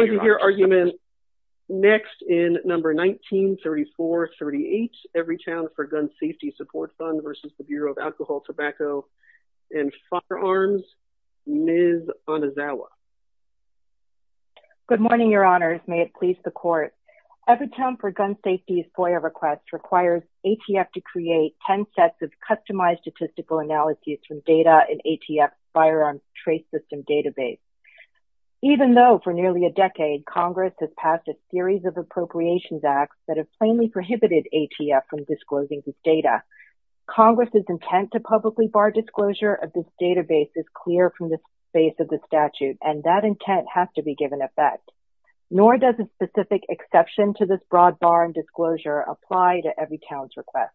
Good morning, Your Honors. May it please the Court. Everytown for Gun Safety's FOIA request requires ATF to create 10 sets of customized statistical analyses from data in ATF's Firearms Trace System Database. Even though, for nearly a decade, Congress has passed a series of appropriations acts that have plainly prohibited ATF from disclosing this data, Congress's intent to publicly bar disclosure of this database is clear from the space of the statute, and that intent has to be given effect. Nor does a specific exception to this broad bar and disclosure apply to Everytown's request.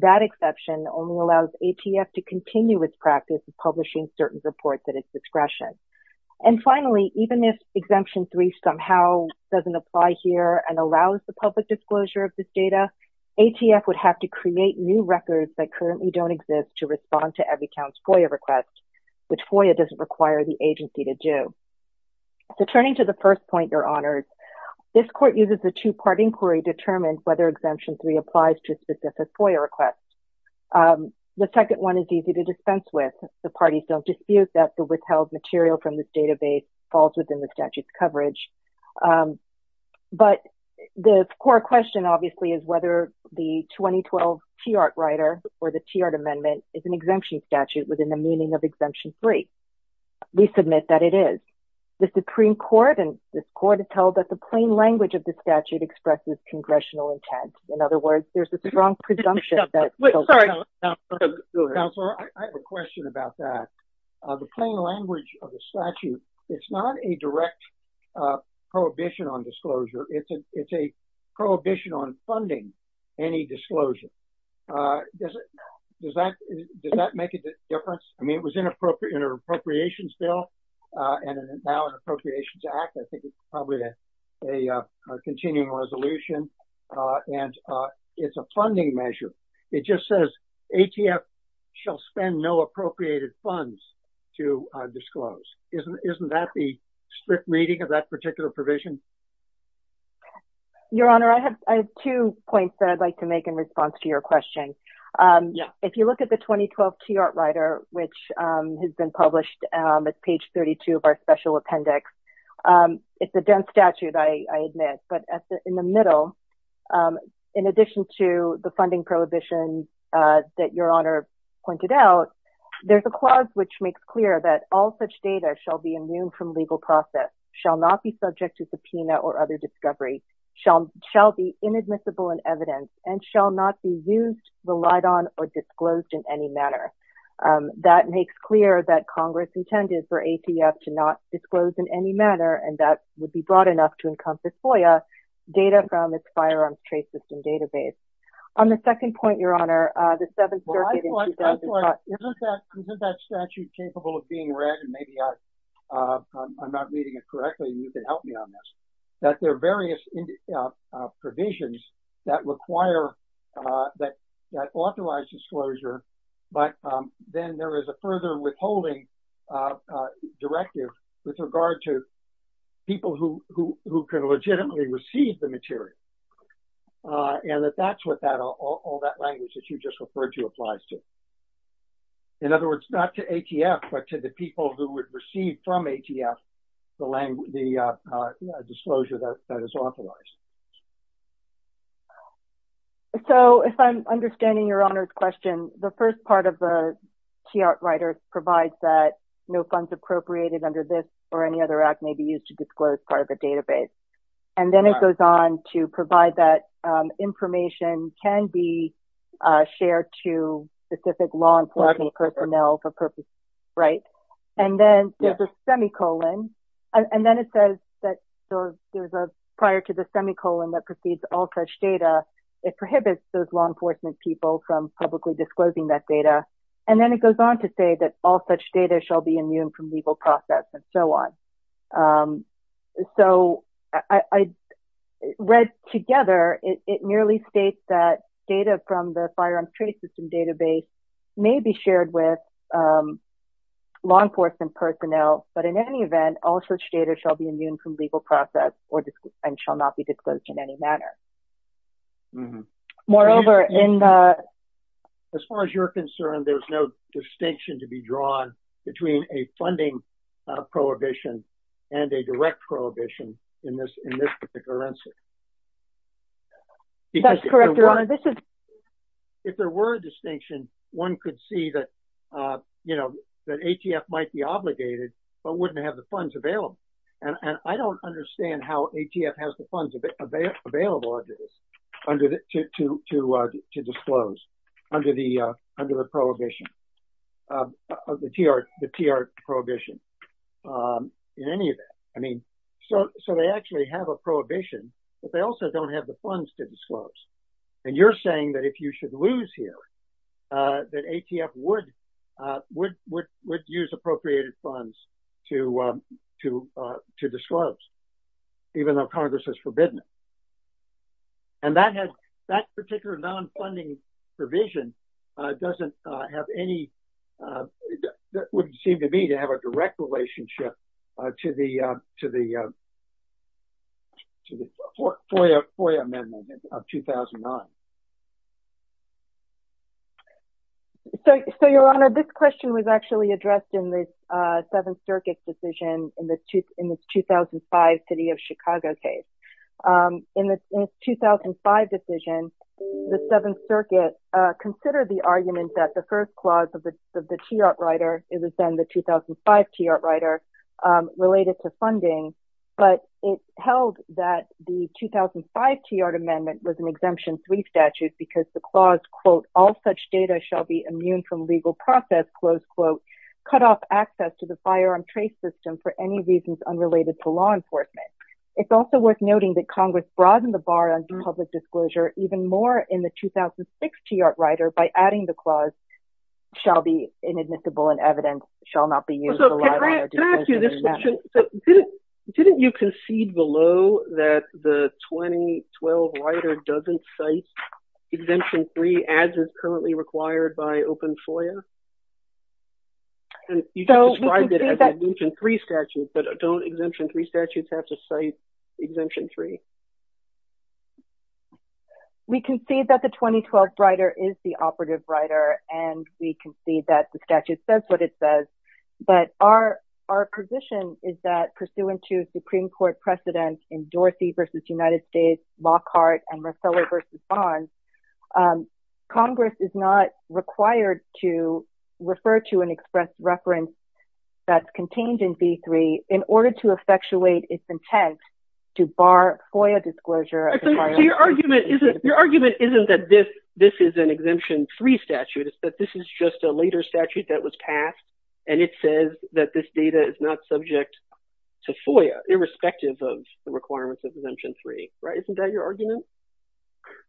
That exception only allows ATF to continue its practice of publishing certain reports at its discretion. And finally, even if Exemption 3 somehow doesn't apply here and allows the public disclosure of this data, ATF would have to create new records that currently don't exist to respond to Everytown's FOIA request, which FOIA doesn't require the agency to do. So, turning to the first point, Your Honors, this Court uses a two-part inquiry to determine whether Exemption 3 applies to a specific FOIA request. The second one is easy to dispense with. The parties don't dispute that the withheld material from this database falls within the statute's coverage. But the core question, obviously, is whether the 2012 TRT writer or the TRT amendment is an exemption statute within the meaning of Exemption 3. We submit that it is. The Supreme Court and this Court has held that the plain language of the statute expresses Congressional intent. In other words, the plain language of the statute, it's not a direct prohibition on disclosure. It's a prohibition on funding any disclosure. Does that make a difference? I mean, it was in an appropriations bill and now an appropriations act. I think it's probably a continuing resolution. And it's a funding measure. It just says ATF shall spend no appropriated funds to disclose. Isn't that the strict reading of that particular provision? Your Honor, I have two points that I'd like to make in response to your question. If you look at the 2012 TRT writer, which has been published, it's page 32 of our special appendix. It's a dense statute, I admit. But in the middle, in addition to the funding prohibition that your Honor pointed out, there's a clause which makes clear that all such data shall be immune from legal process, shall not be subject to subpoena or other discovery, shall be inadmissible in evidence, and shall not be used, relied on, or disclosed in any manner. That makes clear that and that would be broad enough to encompass FOIA, data from its firearms trace system database. On the second point, your Honor, the Seventh Circuit in 2012... Isn't that statute capable of being read? And maybe I'm not reading it correctly, you can help me on this. That there are various provisions that require, that authorize disclosure, but then there is a further withholding directive with regard to people who can legitimately receive the material. And that that's what all that language that you just referred to applies to. In other words, not to ATF, but to the people who would receive from ATF, the disclosure that is authorized. So, if I'm understanding your Honor's question, the first part of the TIART writer provides that no funds appropriated under this or any other act may be used to disclose part of the database. And then it goes on to provide that information can be shared to specific law enforcement personnel for purposes, right? And then there's a semicolon. And then it says that there was a prior to the semicolon that precedes all such data. It prohibits those law enforcement people from publicly disclosing that data. And then it goes on to say that all such data shall be immune from legal process and so on. So, I read together, it merely states that data from the Firearms Trade System database may be shared with law enforcement personnel, but in any event, all such data shall be immune from legal process and shall not be disclosed in any manner. Moreover, in the... As far as you're concerned, there's no distinction to be drawn between a funding prohibition and a direct prohibition in this particular answer. That's correct, Your Honor. This is... If there were a distinction, one could see that, you know, that ATF might be obligated, but wouldn't have the funds available. And I don't understand how ATF has the funds available under this to disclose under the prohibition, of the TR prohibition in any event. I mean, so they actually have a prohibition, but they also don't have the funds to disclose. And you're saying that if you should lose here, that ATF would use appropriated funds to disclose, even though Congress has forbidden it. And that has... That particular non-funding provision doesn't have any... That wouldn't seem to me to have a direct relationship to the FOIA amendment of 2009. So, Your Honor, this question was actually addressed in the Seventh Circuit decision in the 2005 City of Chicago case. In the 2005 decision, the Seventh Circuit considered the argument that the first clause of the TR writer, it was then the 2005 TR writer, related to funding, but it held that the 2005 TR amendment was an exemption three statute because the clause, quote, all such data shall be immune from legal process, close quote, cut off access to the TR system for any reasons unrelated to law enforcement. It's also worth noting that Congress broadened the bar on public disclosure even more in the 2006 TR writer by adding the clause shall be inadmissible and evidence shall not be used. So, can I ask you this question? Didn't you concede below that the 2012 writer doesn't cite exemption three as is currently required by open FOIA? And you described it as an exemption three statute, but don't exemption three statutes have to cite exemption three? We concede that the 2012 writer is the operative writer and we concede that the statute says what it says, but our position is that pursuant to Supreme Court precedent in Dorsey v. United States, Lockhart, and Marcello v. Bonds, um, Congress is not required to refer to an express reference that's contained in B3 in order to effectuate its intent to bar FOIA disclosure. So, your argument isn't that this this is an exemption three statute, it's that this is just a later statute that was passed and it says that this data is not subject to FOIA, irrespective of the requirements of exemption three, right? Isn't that your argument?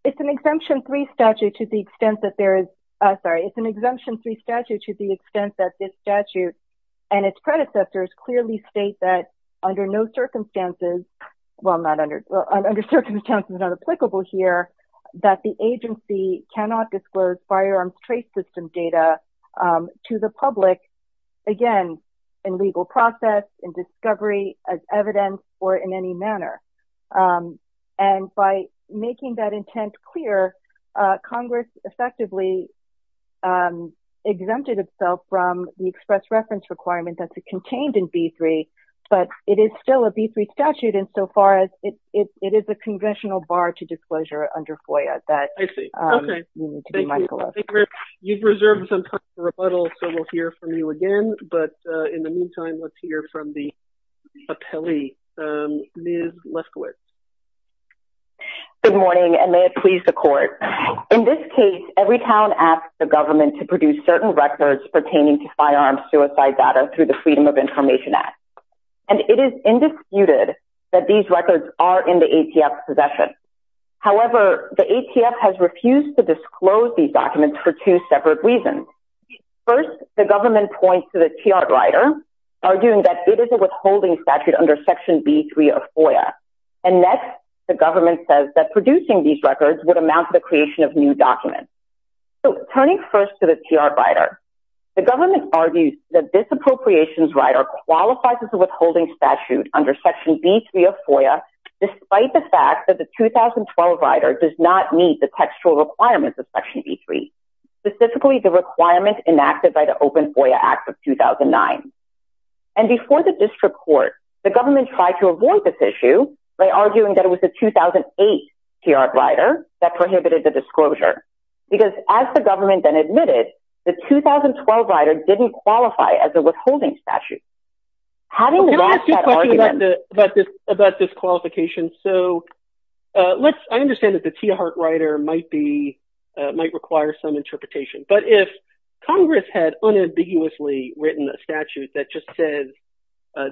It's an exemption three statute to the extent that there is, uh, sorry, it's an exemption three statute to the extent that this statute and its predecessors clearly state that under no circumstances, well not under, well under circumstances not applicable here, that the agency cannot disclose firearms trace system data, um, to the public, again, in legal process, in discovery, as evidence, or in any manner, um, and by making that intent clear, uh, Congress effectively, um, exempted itself from the express reference requirement that's contained in B3, but it is still a B3 statute insofar as it is a conventional bar to disclosure under FOIA that you've reserved some time for rebuttal, so we'll hear from you again, but, uh, in the meantime, let's hear from the appellee, um, Ms. Leskowitz. Good morning, and may it please the court. In this case, Everytown asked the government to produce certain records pertaining to firearm suicide data through the Freedom of Information Act, and it is indisputed that these records are in the ATF's possession. However, the ATF has refused to disclose these documents for two separate reasons. First, the government points to the TR rider, arguing that it is a withholding statute under Section B3 of FOIA, and next, the government says that producing these records would amount to the creation of new documents. So, turning first to the TR rider, the government argues that this appropriations rider qualifies as a withholding statute under Section B3 of FOIA, despite the fact that the 2012 rider does not meet the textual requirements of Section B3, specifically the requirement enacted by the Open FOIA Act of 2009. And before the district court, the government tried to avoid this issue by arguing that it was the 2008 TR rider that prohibited the disclosure, because as the government then admitted, the 2012 rider didn't qualify as a withholding statute. Having lost that argument— Can I ask you a question about this, about this qualification? So, uh, let's—I understand that the TR rider might be, uh, require some interpretation, but if Congress had unambiguously written a statute that just says,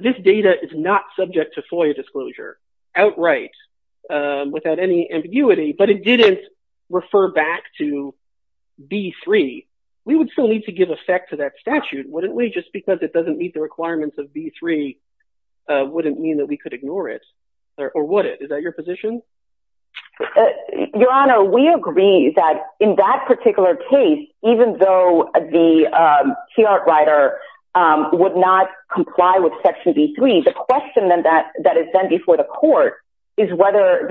this data is not subject to FOIA disclosure, outright, without any ambiguity, but it didn't refer back to B3, we would still need to give effect to that statute, wouldn't we? Just because it doesn't meet the requirements of B3 wouldn't mean that we could ignore it, or would it? Is that particular case, even though the TR rider would not comply with Section B3, the question then that is then before the court is whether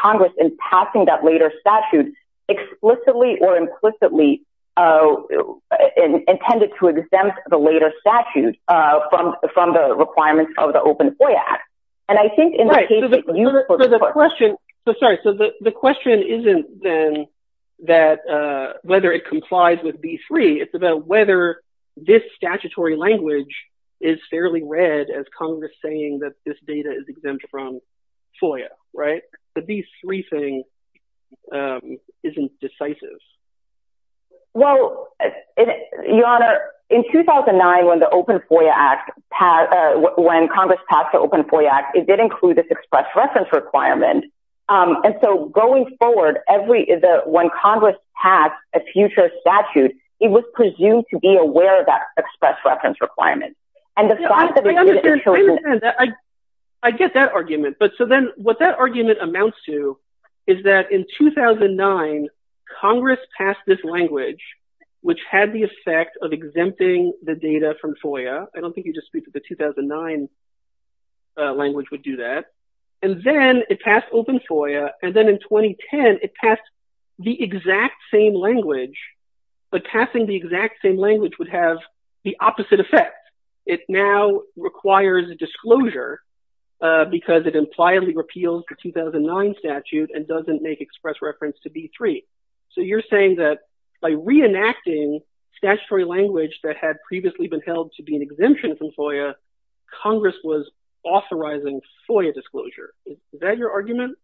Congress, in passing that later statute, explicitly or implicitly intended to exempt the later statute from the requirements of the Open FOIA Act. And I think in the case of— So the question, so sorry, so the question isn't then that, uh, whether it complies with B3, it's about whether this statutory language is fairly read as Congress saying that this data is exempt from FOIA, right? The B3 thing, um, isn't decisive. Well, Your Honor, in 2009, when the Open FOIA Act passed, uh, when Congress passed the Open FOIA Act, it did include this express reference requirement, um, and so going forward, every— when Congress passed a future statute, it was presumed to be aware of that express reference requirement. And the fact that— I understand, I get that argument, but so then what that argument amounts to is that in 2009, Congress passed this language, which had the effect of exempting the data from FOIA. I don't think you just speak to the 2009, uh, language would do that. And then it passed Open FOIA, and then in 2010, it passed the exact same language, but passing the exact same language would have the opposite effect. It now requires a disclosure, uh, because it pliably repeals the 2009 statute and doesn't make express reference to B3. So you're saying that by reenacting statutory language that had previously been held to be an exemption from FOIA, Congress was authorizing FOIA disclosure. Is that your argument?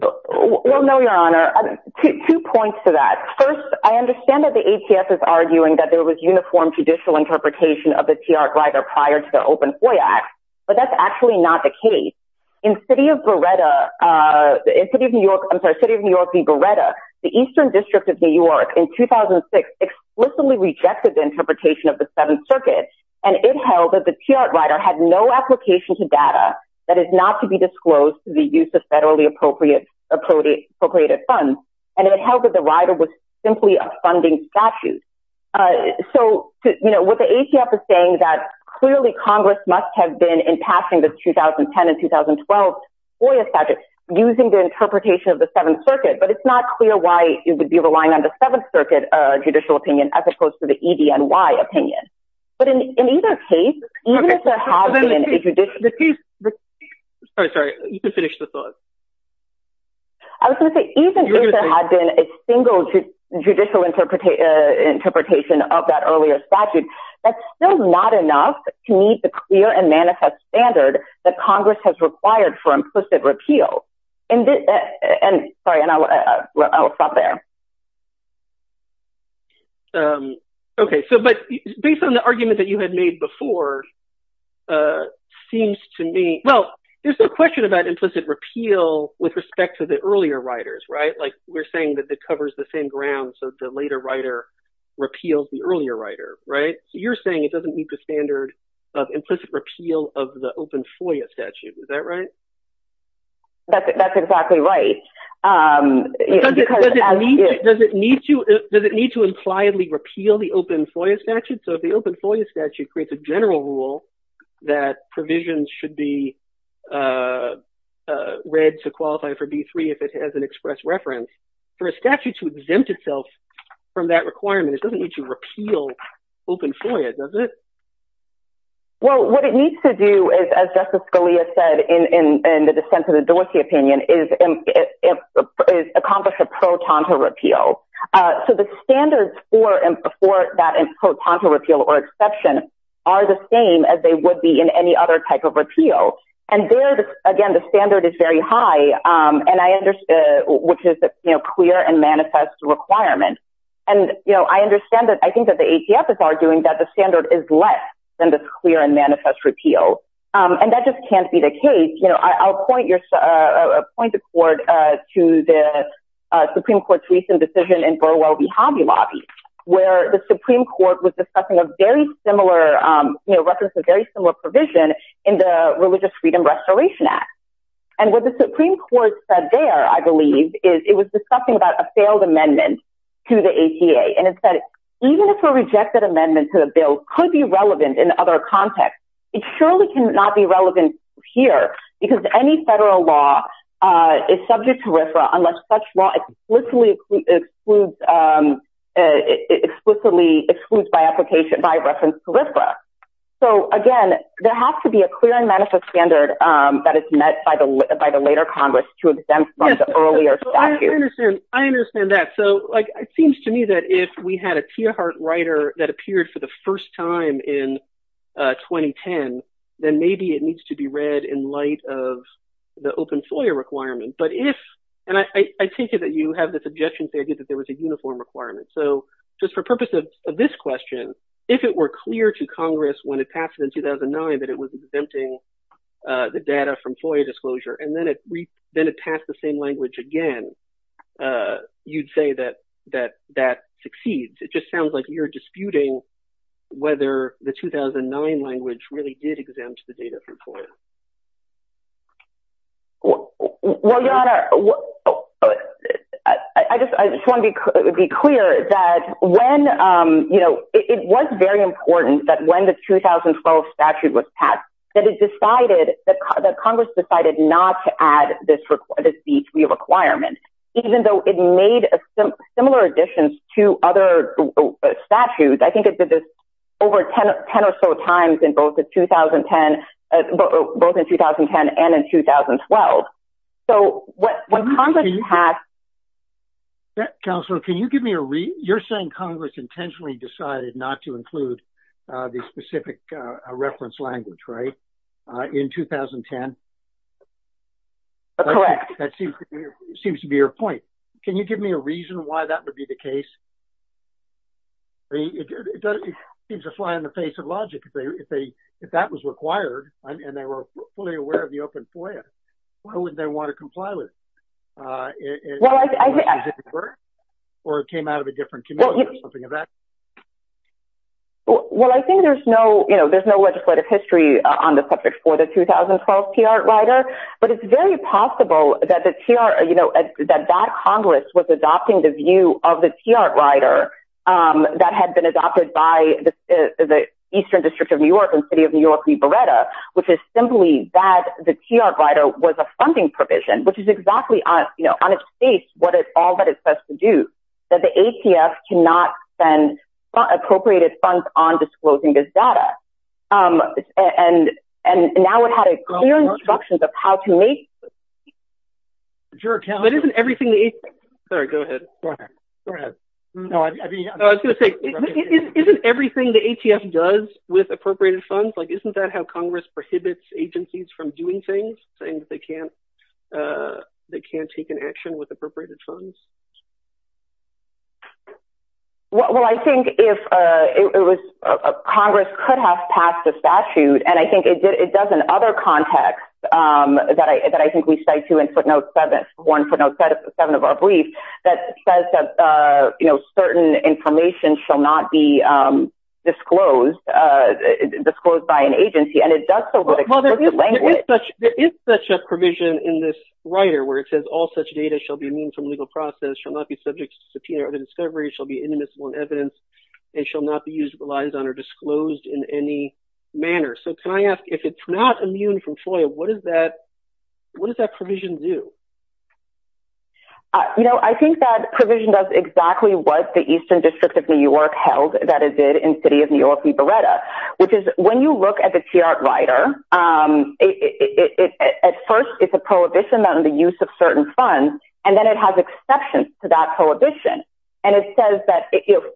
Well, no, Your Honor. Two points to that. First, I understand that the ATS is arguing that there was uniform judicial interpretation of the TR Grider prior to the Open FOIA Act, but that's actually not the case. In City of Beretta, uh, in City of New York— I'm sorry, City of New York v. Beretta, the Eastern District of New York in 2006 explicitly rejected the interpretation of the Seventh Circuit, and it held that the TR Grider had no application to data that is not to be disclosed to the use of federally appropriate funds, and it held that the Grider was simply a funding statute. So, you know, what the ATS is saying that clearly Congress must have been in passing the 2010 and 2012 FOIA statute using the interpretation of the Seventh Circuit, but it's not clear why it would be relying on the Seventh Circuit judicial opinion as opposed to the EDNY opinion. But in either case, even if there has been a judicial— Sorry, sorry, you can finish the thought. I was going to say, even if there had been a judicial interpretation of that earlier statute, that's still not enough to meet the clear and manifest standard that Congress has required for implicit repeal. And, sorry, and I'll stop there. Okay, so, but based on the argument that you had made before, uh, seems to me— Well, there's no question about implicit repeal with respect to the earlier riders, right? Like, we're saying that it covers the same ground, so the later rider repeals the earlier rider, right? So, you're saying it doesn't meet the standard of implicit repeal of the open FOIA statute. Is that right? That's exactly right. Does it need to— Does it need to— Does it need to impliedly repeal the open FOIA statute? So, if the open FOIA statute creates a general rule that provisions should be, uh, uh, read to qualify for B-3 if it has an express reference, for a statute to exempt itself from that requirement, it doesn't need to repeal open FOIA, does it? Well, what it needs to do is, as Justice Scalia said in the dissent of the Dorsey opinion, is accomplish a pro-tonto repeal. So, the standards for that pro-tonto repeal or exception are the same as they would be in any other type of repeal. And there, again, the standard is very high, which is, you know, clear and manifest requirement. And, you know, I understand that— I think that the ACF is arguing that the standard is less than this clear and manifest repeal. And that just can't be the case. You know, I'll point the court to the Supreme Court's recent decision in Burwell v. Hobby Lobby, where the Supreme Court was discussing a very similar, you know, reference, a very similar provision in the Religious Freedom Restoration Act. And what the Supreme Court said there, I believe, is it was discussing about a failed amendment to the ACA. And it said, even if a rejected amendment to the bill could be relevant in other contexts, it surely cannot be relevant here, because any federal law is subject to RFRA So, again, there has to be a clear and manifest standard that is met by the later Congress to exempt from the earlier statute. I understand that. So, like, it seems to me that if we had a Tierhart writer that appeared for the first time in 2010, then maybe it needs to be read in light of the open FOIA requirement. But if—and I take it that you have the suggestion, say, that there was a uniform requirement. So, just for purpose of this question, if it were clear to Congress when it passed in 2009 that it was exempting the data from FOIA disclosure, and then it passed the same language again, you'd say that that succeeds. It just sounds like you're disputing whether the 2009 language really did exempt the data from FOIA. Well, Your Honor, I just want to be clear that when, you know, it was very important that when the 2012 statute was passed, that it decided—that Congress decided not to add this requirement, even though it made similar additions to other statutes. I think it did this over 10 or so times in 2010—both in 2010 and in 2012. So, when Congress passed— Counselor, can you give me a—you're saying Congress intentionally decided not to include the specific reference language, right, in 2010? Correct. That seems to be your point. Can you give me a reason why that would be the case? I mean, it seems to fly in the face of logic. If that was required and they were fully aware of the open FOIA, why wouldn't they want to comply with it? Or it came out of a different community or something of that nature? Well, I think there's no, you know, there's no legislative history on the subject for the 2012 T.R. rider, but it's very possible that the T.R., you know, that that Congress was adopting the view of the T.R. rider that had been adopted by the Eastern District of New York and City of New York v. Beretta, which is simply that the T.R. rider was a funding provision, which is exactly, you know, on its face what all that it says to do—that the ATF cannot spend appropriated funds on disclosing this data. And now it had a clear instruction of how to make— But isn't everything the ATF—sorry, go ahead. Isn't everything the ATF does with appropriated funds, like, isn't that how Congress prohibits agencies from doing things, saying that they can't take an action with appropriated funds? Well, I think if it was—Congress could have passed a statute, and I think it does in other contexts that I think we cite, too, in footnote 7, one footnote 7 of our brief, that says that, you know, certain information shall not be disclosed by an agency, and it does so with exclusive language. Well, there is such a provision in this where it says all such data shall be immune from legal process, shall not be subject to subpoena or other discovery, shall be inimitable in evidence, and shall not be used, relied on, or disclosed in any manner. So can I ask, if it's not immune from FOIA, what does that provision do? You know, I think that provision does exactly what the Eastern District of New York held that it did in City of New York v. Beretta, which is, when you look at the TRWR, at first, it's a prohibition on the use of certain funds, and then it has exceptions to that prohibition. And it says that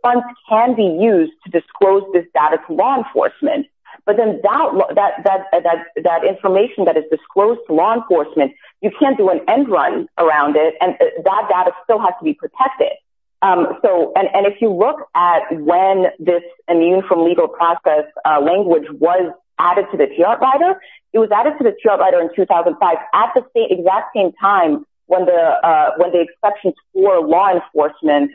funds can be used to disclose this data to law enforcement, but then that information that is disclosed to law enforcement, you can't do an end run around it, and that data still has to be protected. So, and if you look at when this immune from legal process language was added to the TRWR, it was added to the TRWR in 2005 at the exact same time when the exceptions for law enforcement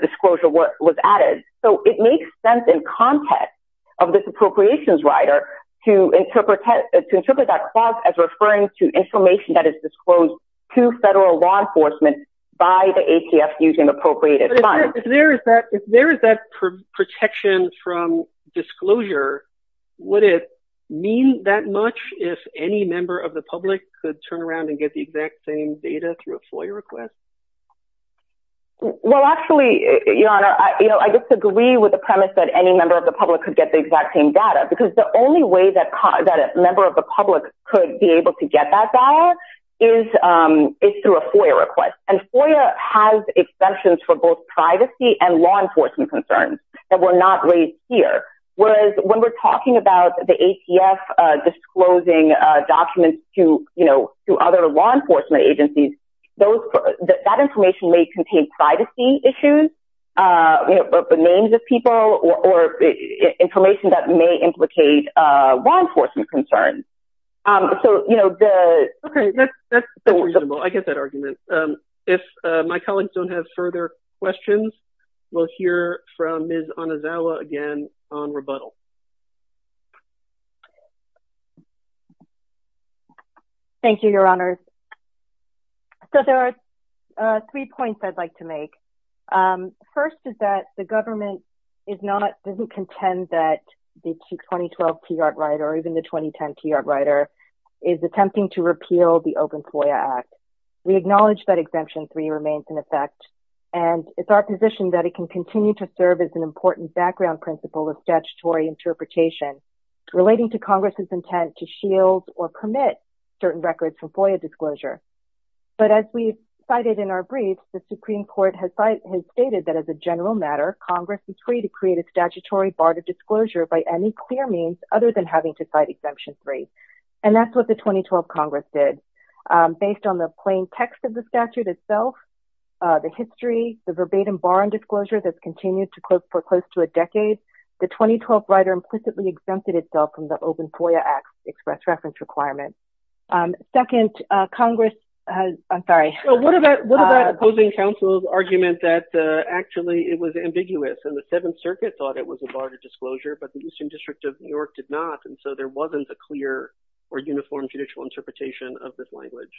disclosure was added. So it makes sense in context of this appropriations rider to interpret that clause as referring to information that is disclosed to federal law enforcement by the ATF using appropriated funds. But if there is that protection from disclosure, would it mean that much if any member of the public could turn around and get the exact same data through a FOIA request? Well, actually, Your Honor, I disagree with the premise that any member of the public could get the exact same data, because the only way that a member of the public could be able to get that is through a FOIA request. And FOIA has exceptions for both privacy and law enforcement concerns that were not raised here. Whereas when we're talking about the ATF disclosing documents to other law enforcement agencies, that information may contain privacy issues, names of people, or information that may implicate law enforcement concerns. So, you know, the... Okay, that's reasonable. I get that argument. If my colleagues don't have further questions, we'll hear from Ms. Onizawa again on rebuttal. Thank you, Your Honors. So there are three points I'd like to make. First is that the government doesn't contend that the 2012 TRR, or even the 2010 TRR, is attempting to repeal the Open FOIA Act. We acknowledge that Exemption 3 remains in effect, and it's our position that it can continue to serve as an important background principle of statutory interpretation relating to Congress' intent to shield or permit certain records from FOIA disclosure. But as we've cited in our brief, the Supreme Court has stated that as a general matter, Congress is free to create a statutory bar to disclosure by any clear means other than having to cite Exemption 3. And that's what the 2012 Congress did. Based on the plain text of the statute itself, the history, the verbatim bar on disclosure that's continued for close to a decade, the 2012 rider implicitly exempted itself from the Open FOIA Act's express reference requirement. Second, Congress has, I'm sorry. So what about opposing counsel's argument that actually it was ambiguous and the Seventh Circuit thought it was a bar to disclosure, but the Eastern District of New York did not, and so there wasn't a clear or uniform judicial interpretation of this language?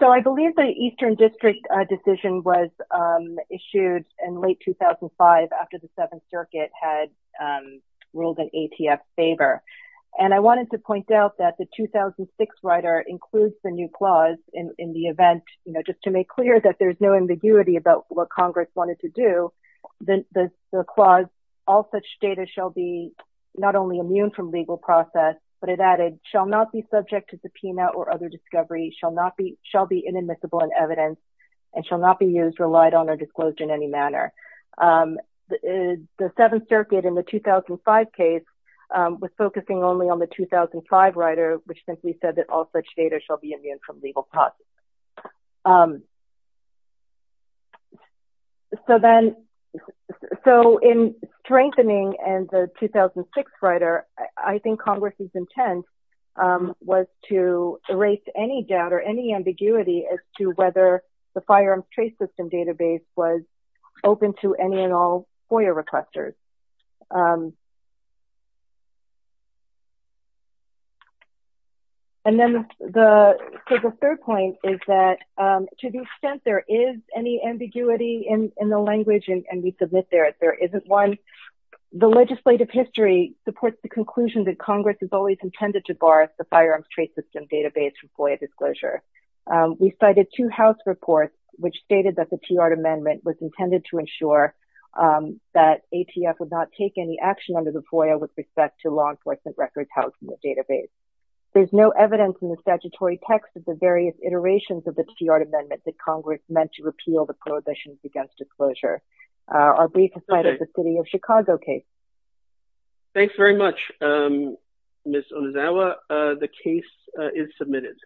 So I believe the Eastern District decision was issued in late 2005 after the Seventh Circuit had ruled in ATF's favor. And I wanted to point out that the 2006 rider includes the new clause in the event, you know, just to make clear that there's no ambiguity about what Congress wanted to do. The clause, all such data shall be not only immune from legal process, but it added, shall not be subject to subpoena or other discovery, shall be inadmissible in evidence, and shall not be used, relied on, or disclosed in any manner. The Seventh Circuit in the 2005 case was focusing only on the 2005 rider, which simply said that all such data shall be immune from legal process. So then, so in strengthening the 2006 rider, I think Congress's intent was to erase any doubt or any ambiguity as to whether the firearms trace system database was open to any and all FOIA requesters. And then the, so the third point is that to the extent there is any ambiguity in the language, and we submit there, there isn't one, the legislative history supports the conclusion that Congress has always intended to bar the firearms trace system database from FOIA disclosure. We cited two house reports, which stated that the TR amendment was intended to ensure that ATF would not take any action under the FOIA with respect to law enforcement records housed in the database. There's no evidence in the statutory text of the various iterations of the TR amendment that Congress meant to repeal the prohibitions against disclosure. Our brief slide is the City of Chicago case. Thanks very much, Ms. Onizawa. The case is submitted.